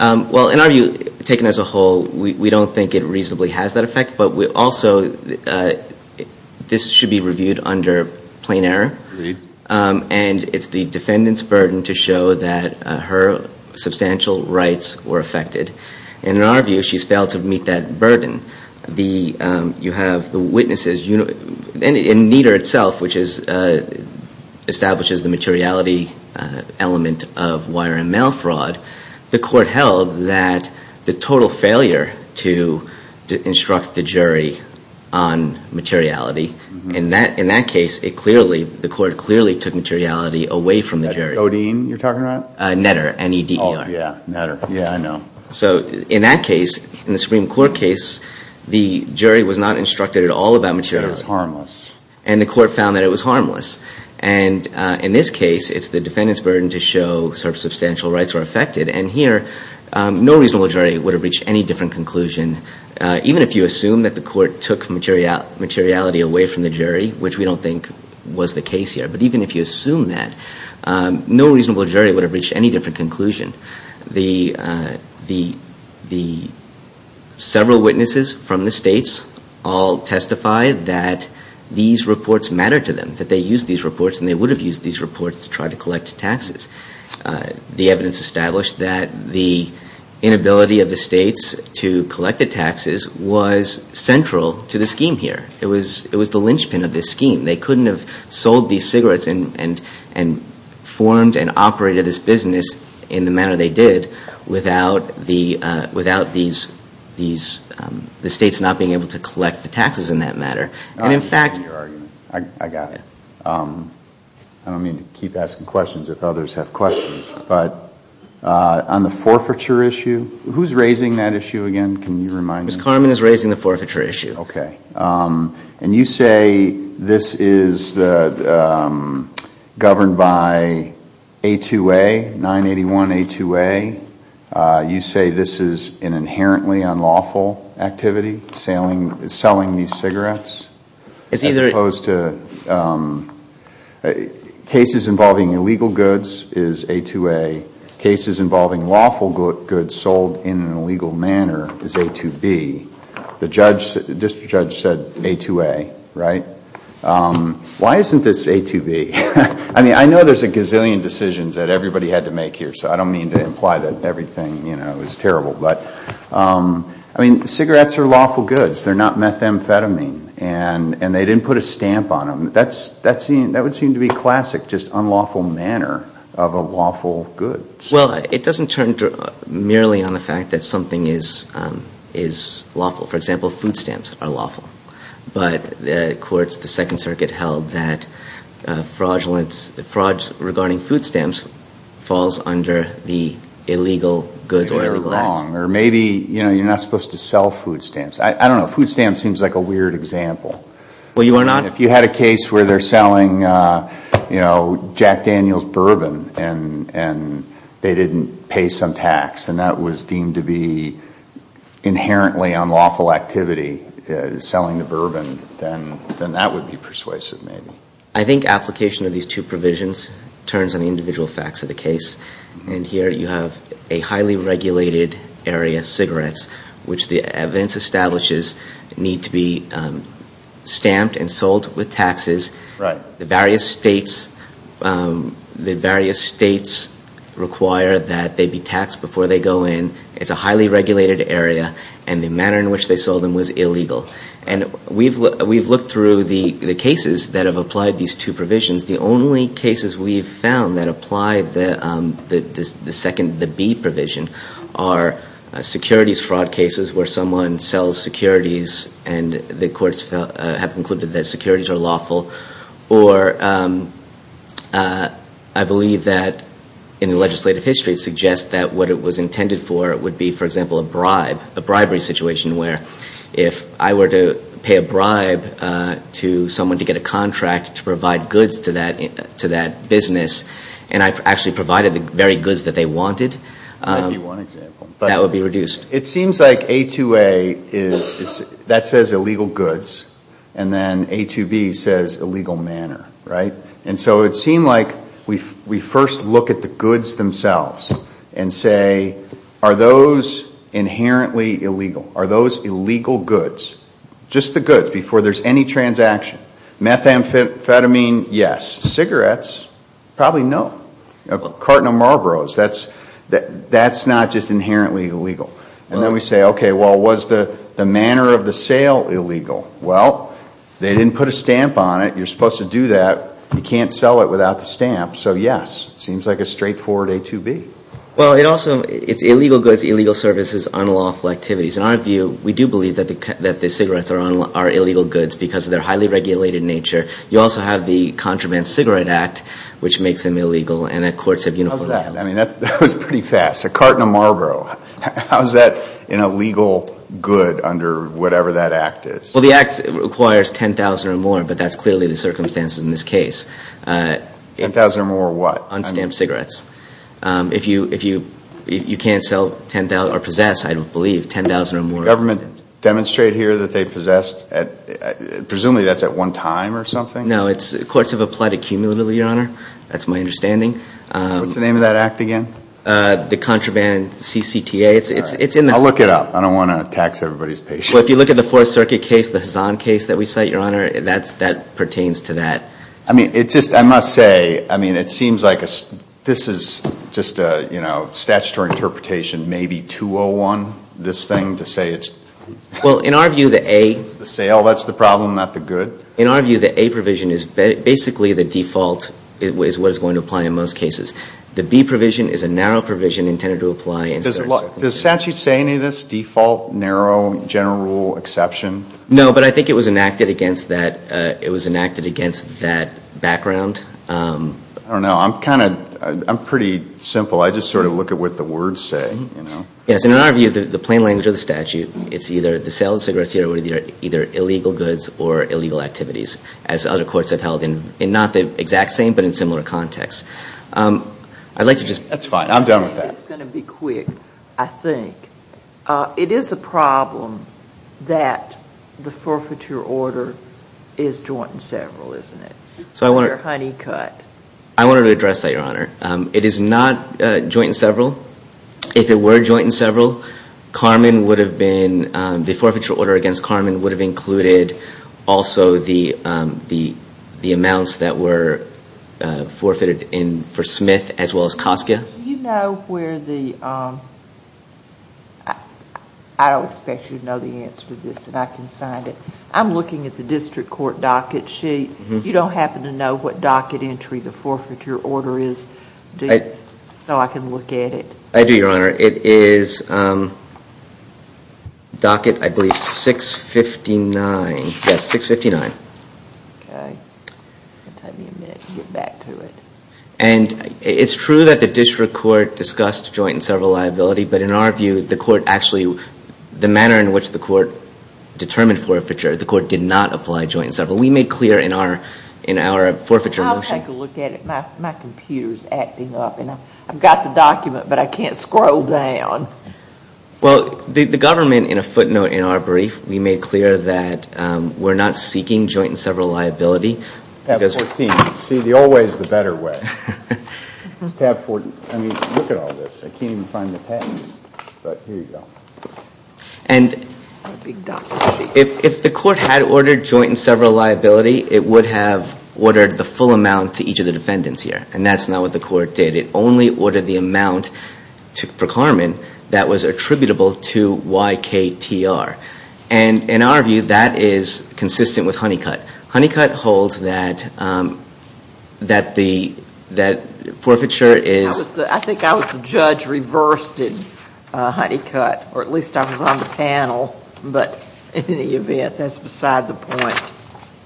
Well, in our view, taken as a whole, we don't think it reasonably has that effect. But we also, this should be reviewed under plain error. And it's the defendant's burden to show that her substantial rights were affected. And in our view, she's failed to meet that burden. You have the witnesses, and Nieder itself, which establishes the materiality element of wire and mail fraud. The court held that the total failure to instruct the jury on materiality, in that case, the court clearly took materiality away from the jury. Netter, N-E-D-E-R. So in that case, in the Supreme Court case, the jury was not instructed at all about materiality. And the court found that it was harmless. And in this case, it's the defendant's burden to show her substantial rights were affected. And here, no reasonable jury would have reached any different conclusion, even if you assume that the court took materiality away from the jury, which we don't think was the case here. But even if you assume that, no reasonable jury would have reached any different conclusion. The several witnesses from the states all testify that these reports matter to them, that they used these reports, and they would have used these reports to try to collect taxes. The evidence established that the inability of the states to collect the taxes was central to the scheme here. It was the linchpin of this scheme. They couldn't have sold these cigarettes and formed and operated this business in the manner they did without the states not being able to collect the taxes in that matter. And in fact — I understand your argument. I got it. I don't mean to keep asking questions if others have questions. But on the forfeiture issue, who's raising that issue again? Can you remind me? Ms. Carmen is raising the forfeiture issue. Okay. And you say this is governed by 981A2A. You say this is an inherently unlawful activity, selling these cigarettes, as opposed to — cases involving lawful goods sold in an illegal manner is A2B. This judge said A2A, right? Why isn't this A2B? I mean, I know there's a gazillion decisions that everybody had to make here, so I don't mean to imply that everything, you know, is terrible. But, I mean, cigarettes are lawful goods. They're not methamphetamine. And they didn't put a stamp on them. That would seem to be classic, just unlawful manner of a lawful good. Well, it doesn't turn merely on the fact that something is lawful. For example, food stamps are lawful. But the courts, the Second Circuit held that frauds regarding food stamps falls under the illegal goods or illegal acts. I don't know. Food stamps seems like a weird example. If you had a case where they're selling, you know, Jack Daniels bourbon, and they didn't pay some tax, and that was deemed to be inherently unlawful activity, selling the bourbon, then that would be persuasive, maybe. I think application of these two provisions turns on the individual facts of the case. And here you have a highly regulated area, cigarettes, which the evidence establishes need to be stamped and sold with taxes. The various states require that they be taxed before they go in. It's a highly regulated area. And the manner in which they sold them was illegal. And we've looked through the cases that have applied these two provisions. The only cases we've found that apply the second, the B provision, are securities fraud cases where someone sells securities, and the courts have concluded that securities are lawful. Or I believe that in the legislative history, it suggests that what it was intended for would be, for example, a bribe, a bribery situation, where if I were to pay a bribe to someone to get a contract to provide goods to them, that would be a bribery. And I've actually provided the very goods that they wanted. That would be reduced. It seems like A2A is, that says illegal goods, and then A2B says illegal manner, right? And so it seemed like we first look at the goods themselves and say, are those inherently illegal? Are those illegal goods? Just the goods before there's any transaction. Methamphetamine, yes. Cigarettes, probably no. A carton of Marlboros, that's not just inherently illegal. And then we say, okay, well, was the manner of the sale illegal? Well, they didn't put a stamp on it. You're supposed to do that. You can't sell it without the stamp. So yes, it seems like a straightforward A2B. Well, it also, it's illegal goods, illegal services, unlawful activities. You also have the Contraband Cigarette Act, which makes them illegal, and that courts have uniformly held. How's that? I mean, that was pretty fast. A carton of Marlboro. How's that an illegal good under whatever that act is? Well, the act requires 10,000 or more, but that's clearly the circumstances in this case. 10,000 or more what? Unstamped cigarettes. If you can't sell 10,000 or possess, I believe, 10,000 or more. Does the government demonstrate here that they possessed, presumably that's at one time or something? No, courts have applied accumulatively, Your Honor. That's my understanding. What's the name of that act again? The Contraband CCTA. I'll look it up. I don't want to tax everybody's patience. Well, if you look at the Fourth Circuit case, the Hazan case that we cite, Your Honor, that pertains to that. I mean, it just, I must say, I mean, it seems like this is just a, you know, statutory interpretation. Maybe 201, this thing, to say it's the sale, that's the problem, not the good? In our view, the A provision is basically the default is what is going to apply in most cases. The B provision is a narrow provision intended to apply in certain circumstances. Does statute say any of this, default, narrow, general rule, exception? No, but I think it was enacted against that background. I don't know. I'm kind of, I'm pretty simple. I just sort of look at what the words say. Yes, in our view, the plain language of the statute, it's either the sale of cigarettes here or either illegal goods or illegal activities, as other courts have held in not the exact same but in similar contexts. That's fine. I'm done with that. It's going to be quick, I think. It is a problem that the forfeiture order is joint and several, isn't it? So I want to address that, Your Honor. It is not joint and several. If it were joint and several, Carmen would have been, the forfeiture order against Carmen would have included also the amounts that were forfeited for Smith as well as Koska. Do you know where the, I don't expect you to know the answer to this, but I can find it. I'm looking at the district court docket sheet. You don't happen to know what docket entry the forfeiture order is? So I can look at it. I do, Your Honor. It is docket, I believe, 659. Yes, 659. It's going to take me a minute to get back to it. It's true that the district court discussed joint and several liability, but in our view, the court actually, the manner in which the court determined forfeiture, the court did not apply joint and several. We made clear in our forfeiture motion. Let me take a look at it. My computer is acting up. I've got the document, but I can't scroll down. Well, the government, in a footnote in our brief, we made clear that we're not seeking joint and several liability. See, the old way is the better way. I mean, look at all this. I can't even find the patent, but here you go. And if the court had ordered joint and several liability, it would have ordered the full amount to each of the defendants here. And that's not what the court did. It only ordered the amount for Carmen that was attributable to YKTR. And in our view, that is consistent with Honeycutt. Honeycutt holds that the forfeiture is...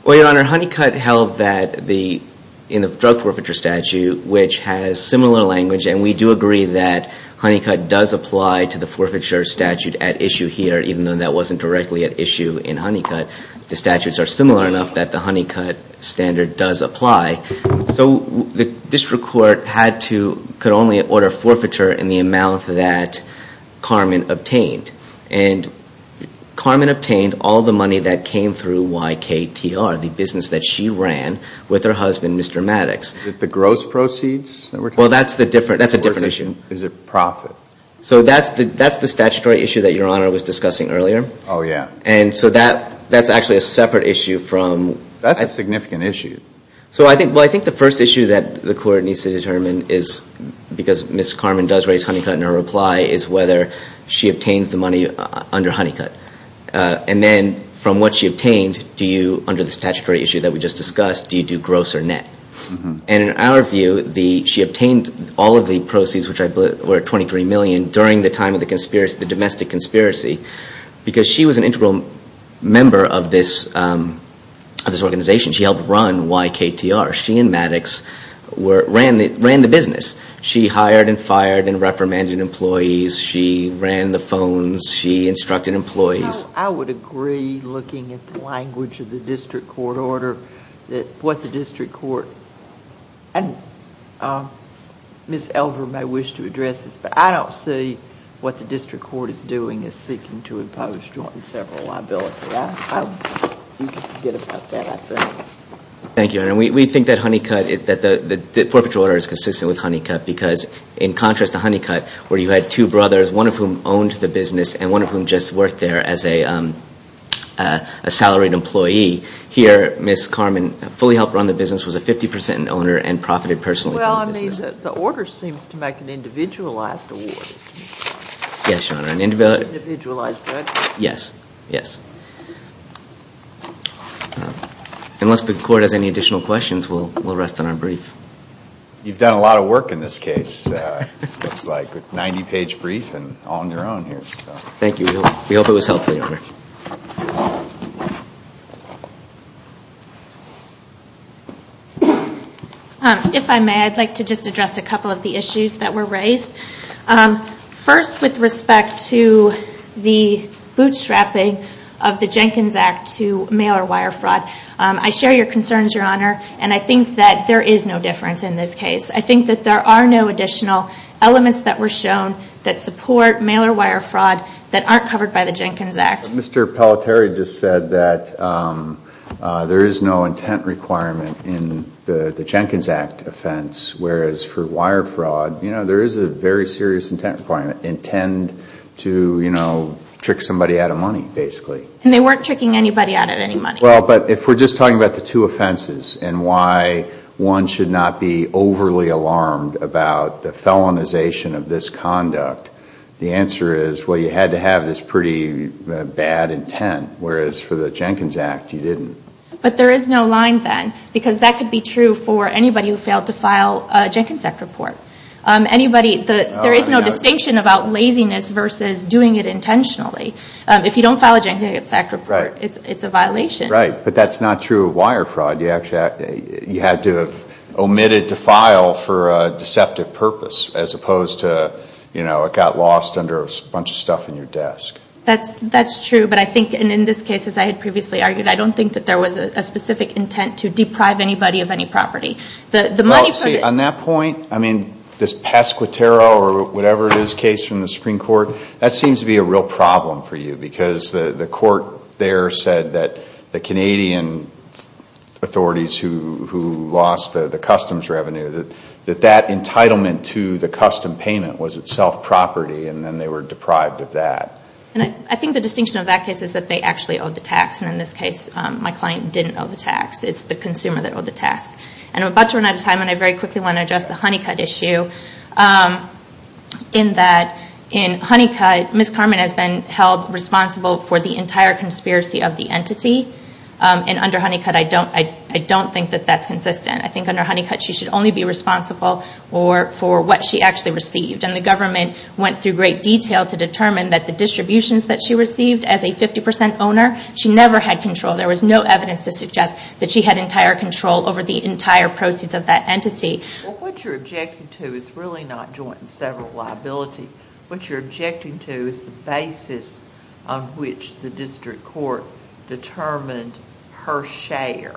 Well, Your Honor, Honeycutt held that in the drug forfeiture statute, which has similar language, and we do agree that Honeycutt does apply to the forfeiture statute at issue here, even though that wasn't directly at issue in Honeycutt. The statutes are similar enough that the Honeycutt standard does apply. So the district court could only order forfeiture in the amount that Carmen obtained. And Carmen obtained all the money that came through YKTR, the business that she ran with her husband, Mr. Maddox. Is it the gross proceeds? Well, that's a different issue. Is it profit? So that's the statutory issue that Your Honor was discussing earlier. Oh, yeah. And so that's actually a separate issue from... That's a significant issue. Well, I think the first issue that the court needs to determine is, because Ms. Carmen does raise Honeycutt in her reply, is whether she obtained the money under Honeycutt. And then from what she obtained, do you, under the statutory issue that we just discussed, do you do gross or net? And in our view, she obtained all of the proceeds, which I believe were $23 million, during the time of the domestic conspiracy. Because she was an integral member of this organization. She helped run YKTR. She and Maddox ran the business. She hired and fired and reprimanded employees. She ran the phones. She instructed employees. No, I would agree, looking at the language of the district court order, that what the district court... And Ms. Elver may wish to address this, but I don't see what the district court is doing is seeking to impose joint and several liability. You can forget about that, I think. Thank you, Your Honor. We think that Honeycutt, that the forfeiture order is consistent with Honeycutt, because in contrast to Honeycutt, where you had two brothers, one of whom owned the business and one of whom just worked there as a salaried employee, here, Ms. Carman fully helped run the business, was a 50% owner, and profited personally from the business. Well, I mean, the order seems to make an individualized award. Yes, Your Honor, an individualized... Yes, yes. Unless the court has any additional questions, we'll rest on our brief. You've done a lot of work in this case, it looks like, a 90-page brief, and all on your own here. Thank you. We hope it was helpful, Your Honor. If I may, I'd like to just address a couple of the issues that were raised. First, with respect to the bootstrapping of the Jenkins Act to mail-or-wire fraud. I share your concerns, Your Honor, and I think that there is no difference in this case. I think that there are no additional elements that were shown that support mail-or-wire fraud that aren't covered by the Jenkins Act. Mr. Palateri just said that there is no intent requirement in the Jenkins Act offense, whereas for wire fraud, you know, there is a very serious intent requirement. Intend to, you know, trick somebody out of money, basically. And they weren't tricking anybody out of any money. Well, but if we're just talking about the two offenses and why one should not be overly alarmed about the felonization of this conduct, the answer is, well, you had to have this pretty bad intent, whereas for the Jenkins Act, you didn't. But there is no line then, because that could be true for anybody who failed to file a Jenkins Act report. There is no distinction about laziness versus doing it intentionally. If you don't file a Jenkins Act report, it's a violation. Right, but that's not true of wire fraud. You had to have omitted to file for a deceptive purpose, as opposed to, you know, it got lost under a bunch of stuff in your desk. That's true, but I think in this case, as I had previously argued, I don't think that there was a specific intent to deprive anybody of any property. On that point, I mean, this Pesquitero or whatever it is case from the Supreme Court, that seems to be a real problem for you, because the court there said that the Canadian authorities who lost the customs revenue, that that entitlement to the custom payment was itself property, and then they were deprived of that. And I think the distinction of that case is that they actually owed the tax, and in this case, my client didn't owe the tax. It's the consumer that owed the tax. And I'm about to run out of time, and I very quickly want to address the Honeycutt issue in that in Honeycutt, Ms. Carmen has been held responsible for the entire conspiracy of the entity. And under Honeycutt, I don't think that that's consistent. I think under Honeycutt, she should only be responsible for what she actually received. And the government went through great detail to determine that the distributions that she received as a 50% owner, she never had control. There was no evidence to suggest that she had entire control over the entire proceeds of that entity. What you're objecting to is really not joint and several liability. What you're objecting to is the basis on which the district court determined her share.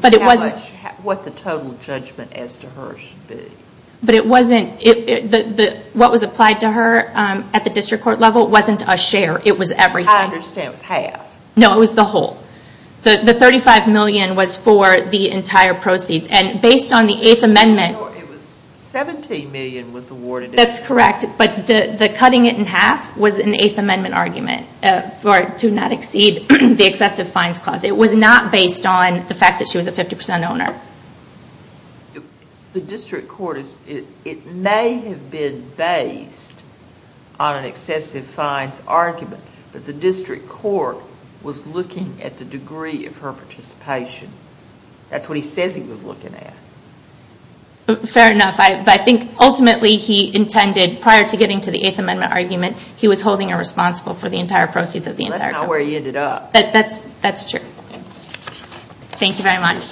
What the total judgment as to her should be. But it wasn't, what was applied to her at the district court level wasn't a share. It was everything. I understand. It was half. No, it was the whole. The $35 million was for the entire proceeds. And based on the 8th amendment $17 million was awarded. That's correct. But the cutting it in half was an 8th amendment argument to not exceed the excessive fines clause. It was not based on the fact that she was a 50% owner. The district court, it may have been based on an excessive fines argument. But the district court was looking at the degree of her participation. That's what he says he was looking at. Fair enough. But I think ultimately he intended prior to getting to the 8th amendment argument, he was holding her responsible for the entire proceeds of the entire company. That's not where he ended up. That's true. Thank you very much.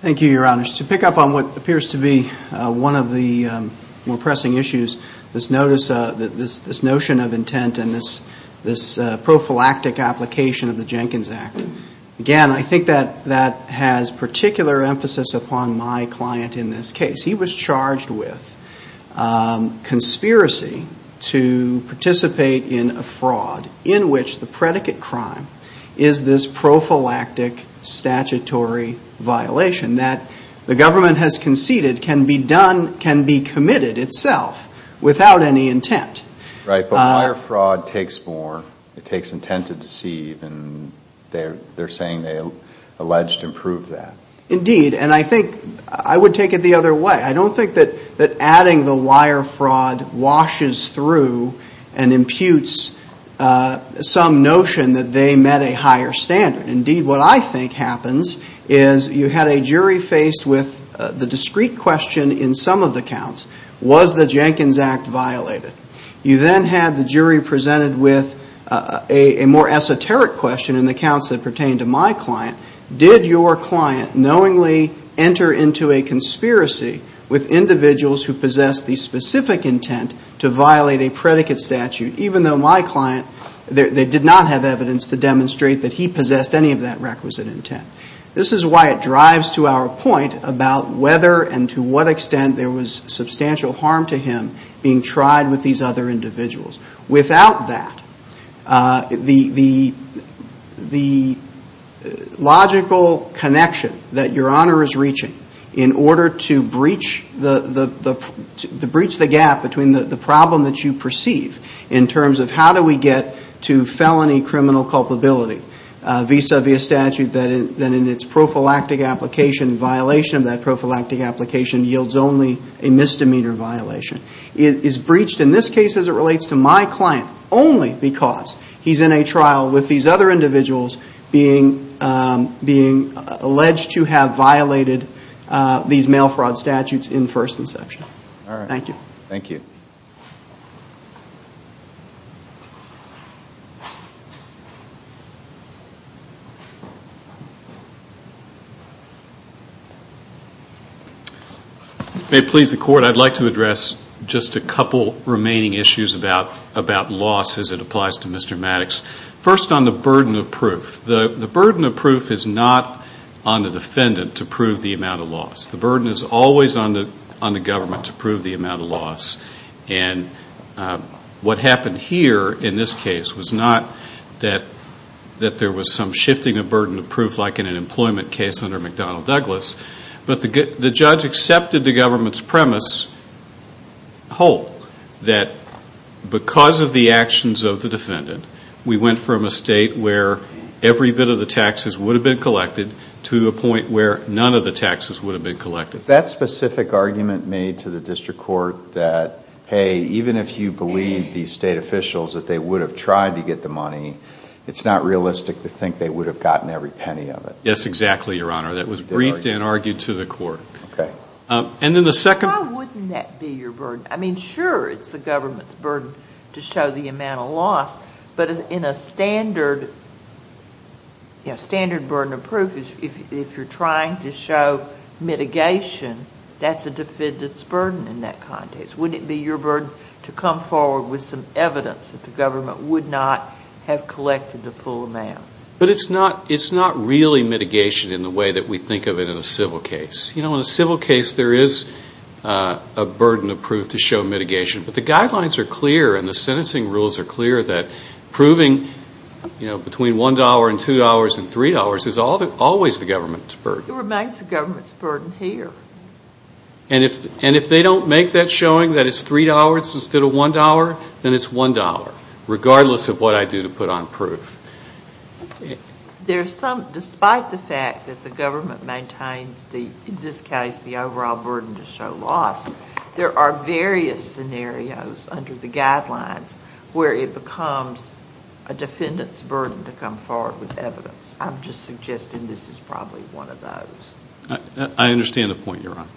Thank you, Your Honors. To pick up on what appears to be one of the more pressing issues, this notion of intent and this prophylactic application of the Jenkins Act. Again, I think that has particular emphasis upon my client in this case. He was charged with conspiracy to participate in a fraud in which the predicate crime is this prophylactic statutory violation that the government has conceded can be committed itself without any intent. Right. But prior fraud takes more. It takes intent to deceive. They're saying they alleged to prove that. Indeed. And I think I would take it the other way. I don't think that adding the wire fraud washes through and imputes some notion that they met a higher standard. Indeed, what I think happens is you had a jury faced with the discrete question in some of the counts. Was the Jenkins Act violated? You then had the jury presented with a more esoteric question in the counts that pertain to my client knowingly enter into a conspiracy with individuals who possess the specific intent to violate a predicate statute, even though my client, they did not have evidence to demonstrate that he possessed any of that requisite intent. This is why it drives to our point about whether and to what extent there was substantial harm to him being tried with these other individuals. Without that, the logical connection that Your Honor is reaching in order to breach the gap between the problem that you perceive in terms of how do we get to felony criminal culpability, vis-a-vis a statute that in its prophylactic application, violation of that prophylactic application yields only a misdemeanor violation, is breached in this case as it relates to my client only because he's in a position of being alleged to have violated these mail fraud statutes in first inception. Thank you. Thank you. May it please the Court, I'd like to address just a couple remaining issues about loss as it applies to Mr. Maddox. First, on the burden of proof. The burden of proof is not on the defendant to prove the amount of loss. The burden is always on the government to prove the amount of loss. What happened here in this case was not that there was some shifting of burden of proof like in an employment case under McDonnell Douglas, but the judge accepted the government's premise whole, that because of the loss of the defendant, we went from a state where every bit of the taxes would have been collected to a point where none of the taxes would have been collected. Is that specific argument made to the District Court that, hey, even if you believe these state officials that they would have tried to get the money, it's not realistic to think they would have gotten every penny of it? Yes, exactly, Your Honor. That was briefed and argued to the Court. Why wouldn't that be your burden? I mean, sure, it's the government's burden to show the amount of loss, but in a standard burden of proof, if you're trying to show mitigation, that's a defendant's burden in that context. Wouldn't it be your burden to come forward with some evidence that the government would not have collected the full amount? It's not really mitigation in the way that we think of it in a civil case. In a civil case, there is a burden of proof to show here, and the sentencing rules are clear that proving between $1 and $2 and $3 is always the government's burden. It remains the government's burden here. And if they don't make that showing that it's $3 instead of $1, then it's $1, regardless of what I do to put on proof. Despite the fact that the government maintains, in this case, the overall burden to show loss, there are various scenarios under the guidelines where it becomes a defendant's burden to come forward with evidence. I'm just suggesting this is probably one of those. I understand the point you're on.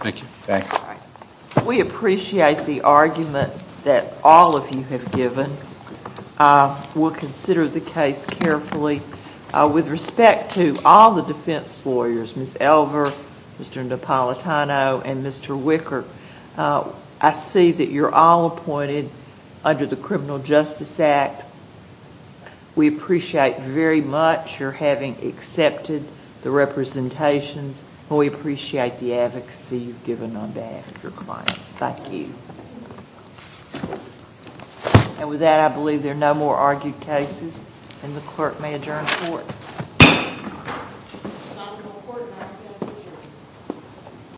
Thank you. Thanks. We appreciate the argument that all of you have given. We'll consider the case carefully. With respect to all the defense lawyers, Ms. Elver, Mr. Napolitano, and Mr. Wicker, I see that you're all appointed under the Criminal Justice Act. We appreciate very much your having accepted the representations, and we appreciate the advocacy you've given on behalf of your clients. Thank you. And with that, I believe there are no more argued cases, and the clerk may adjourn the court.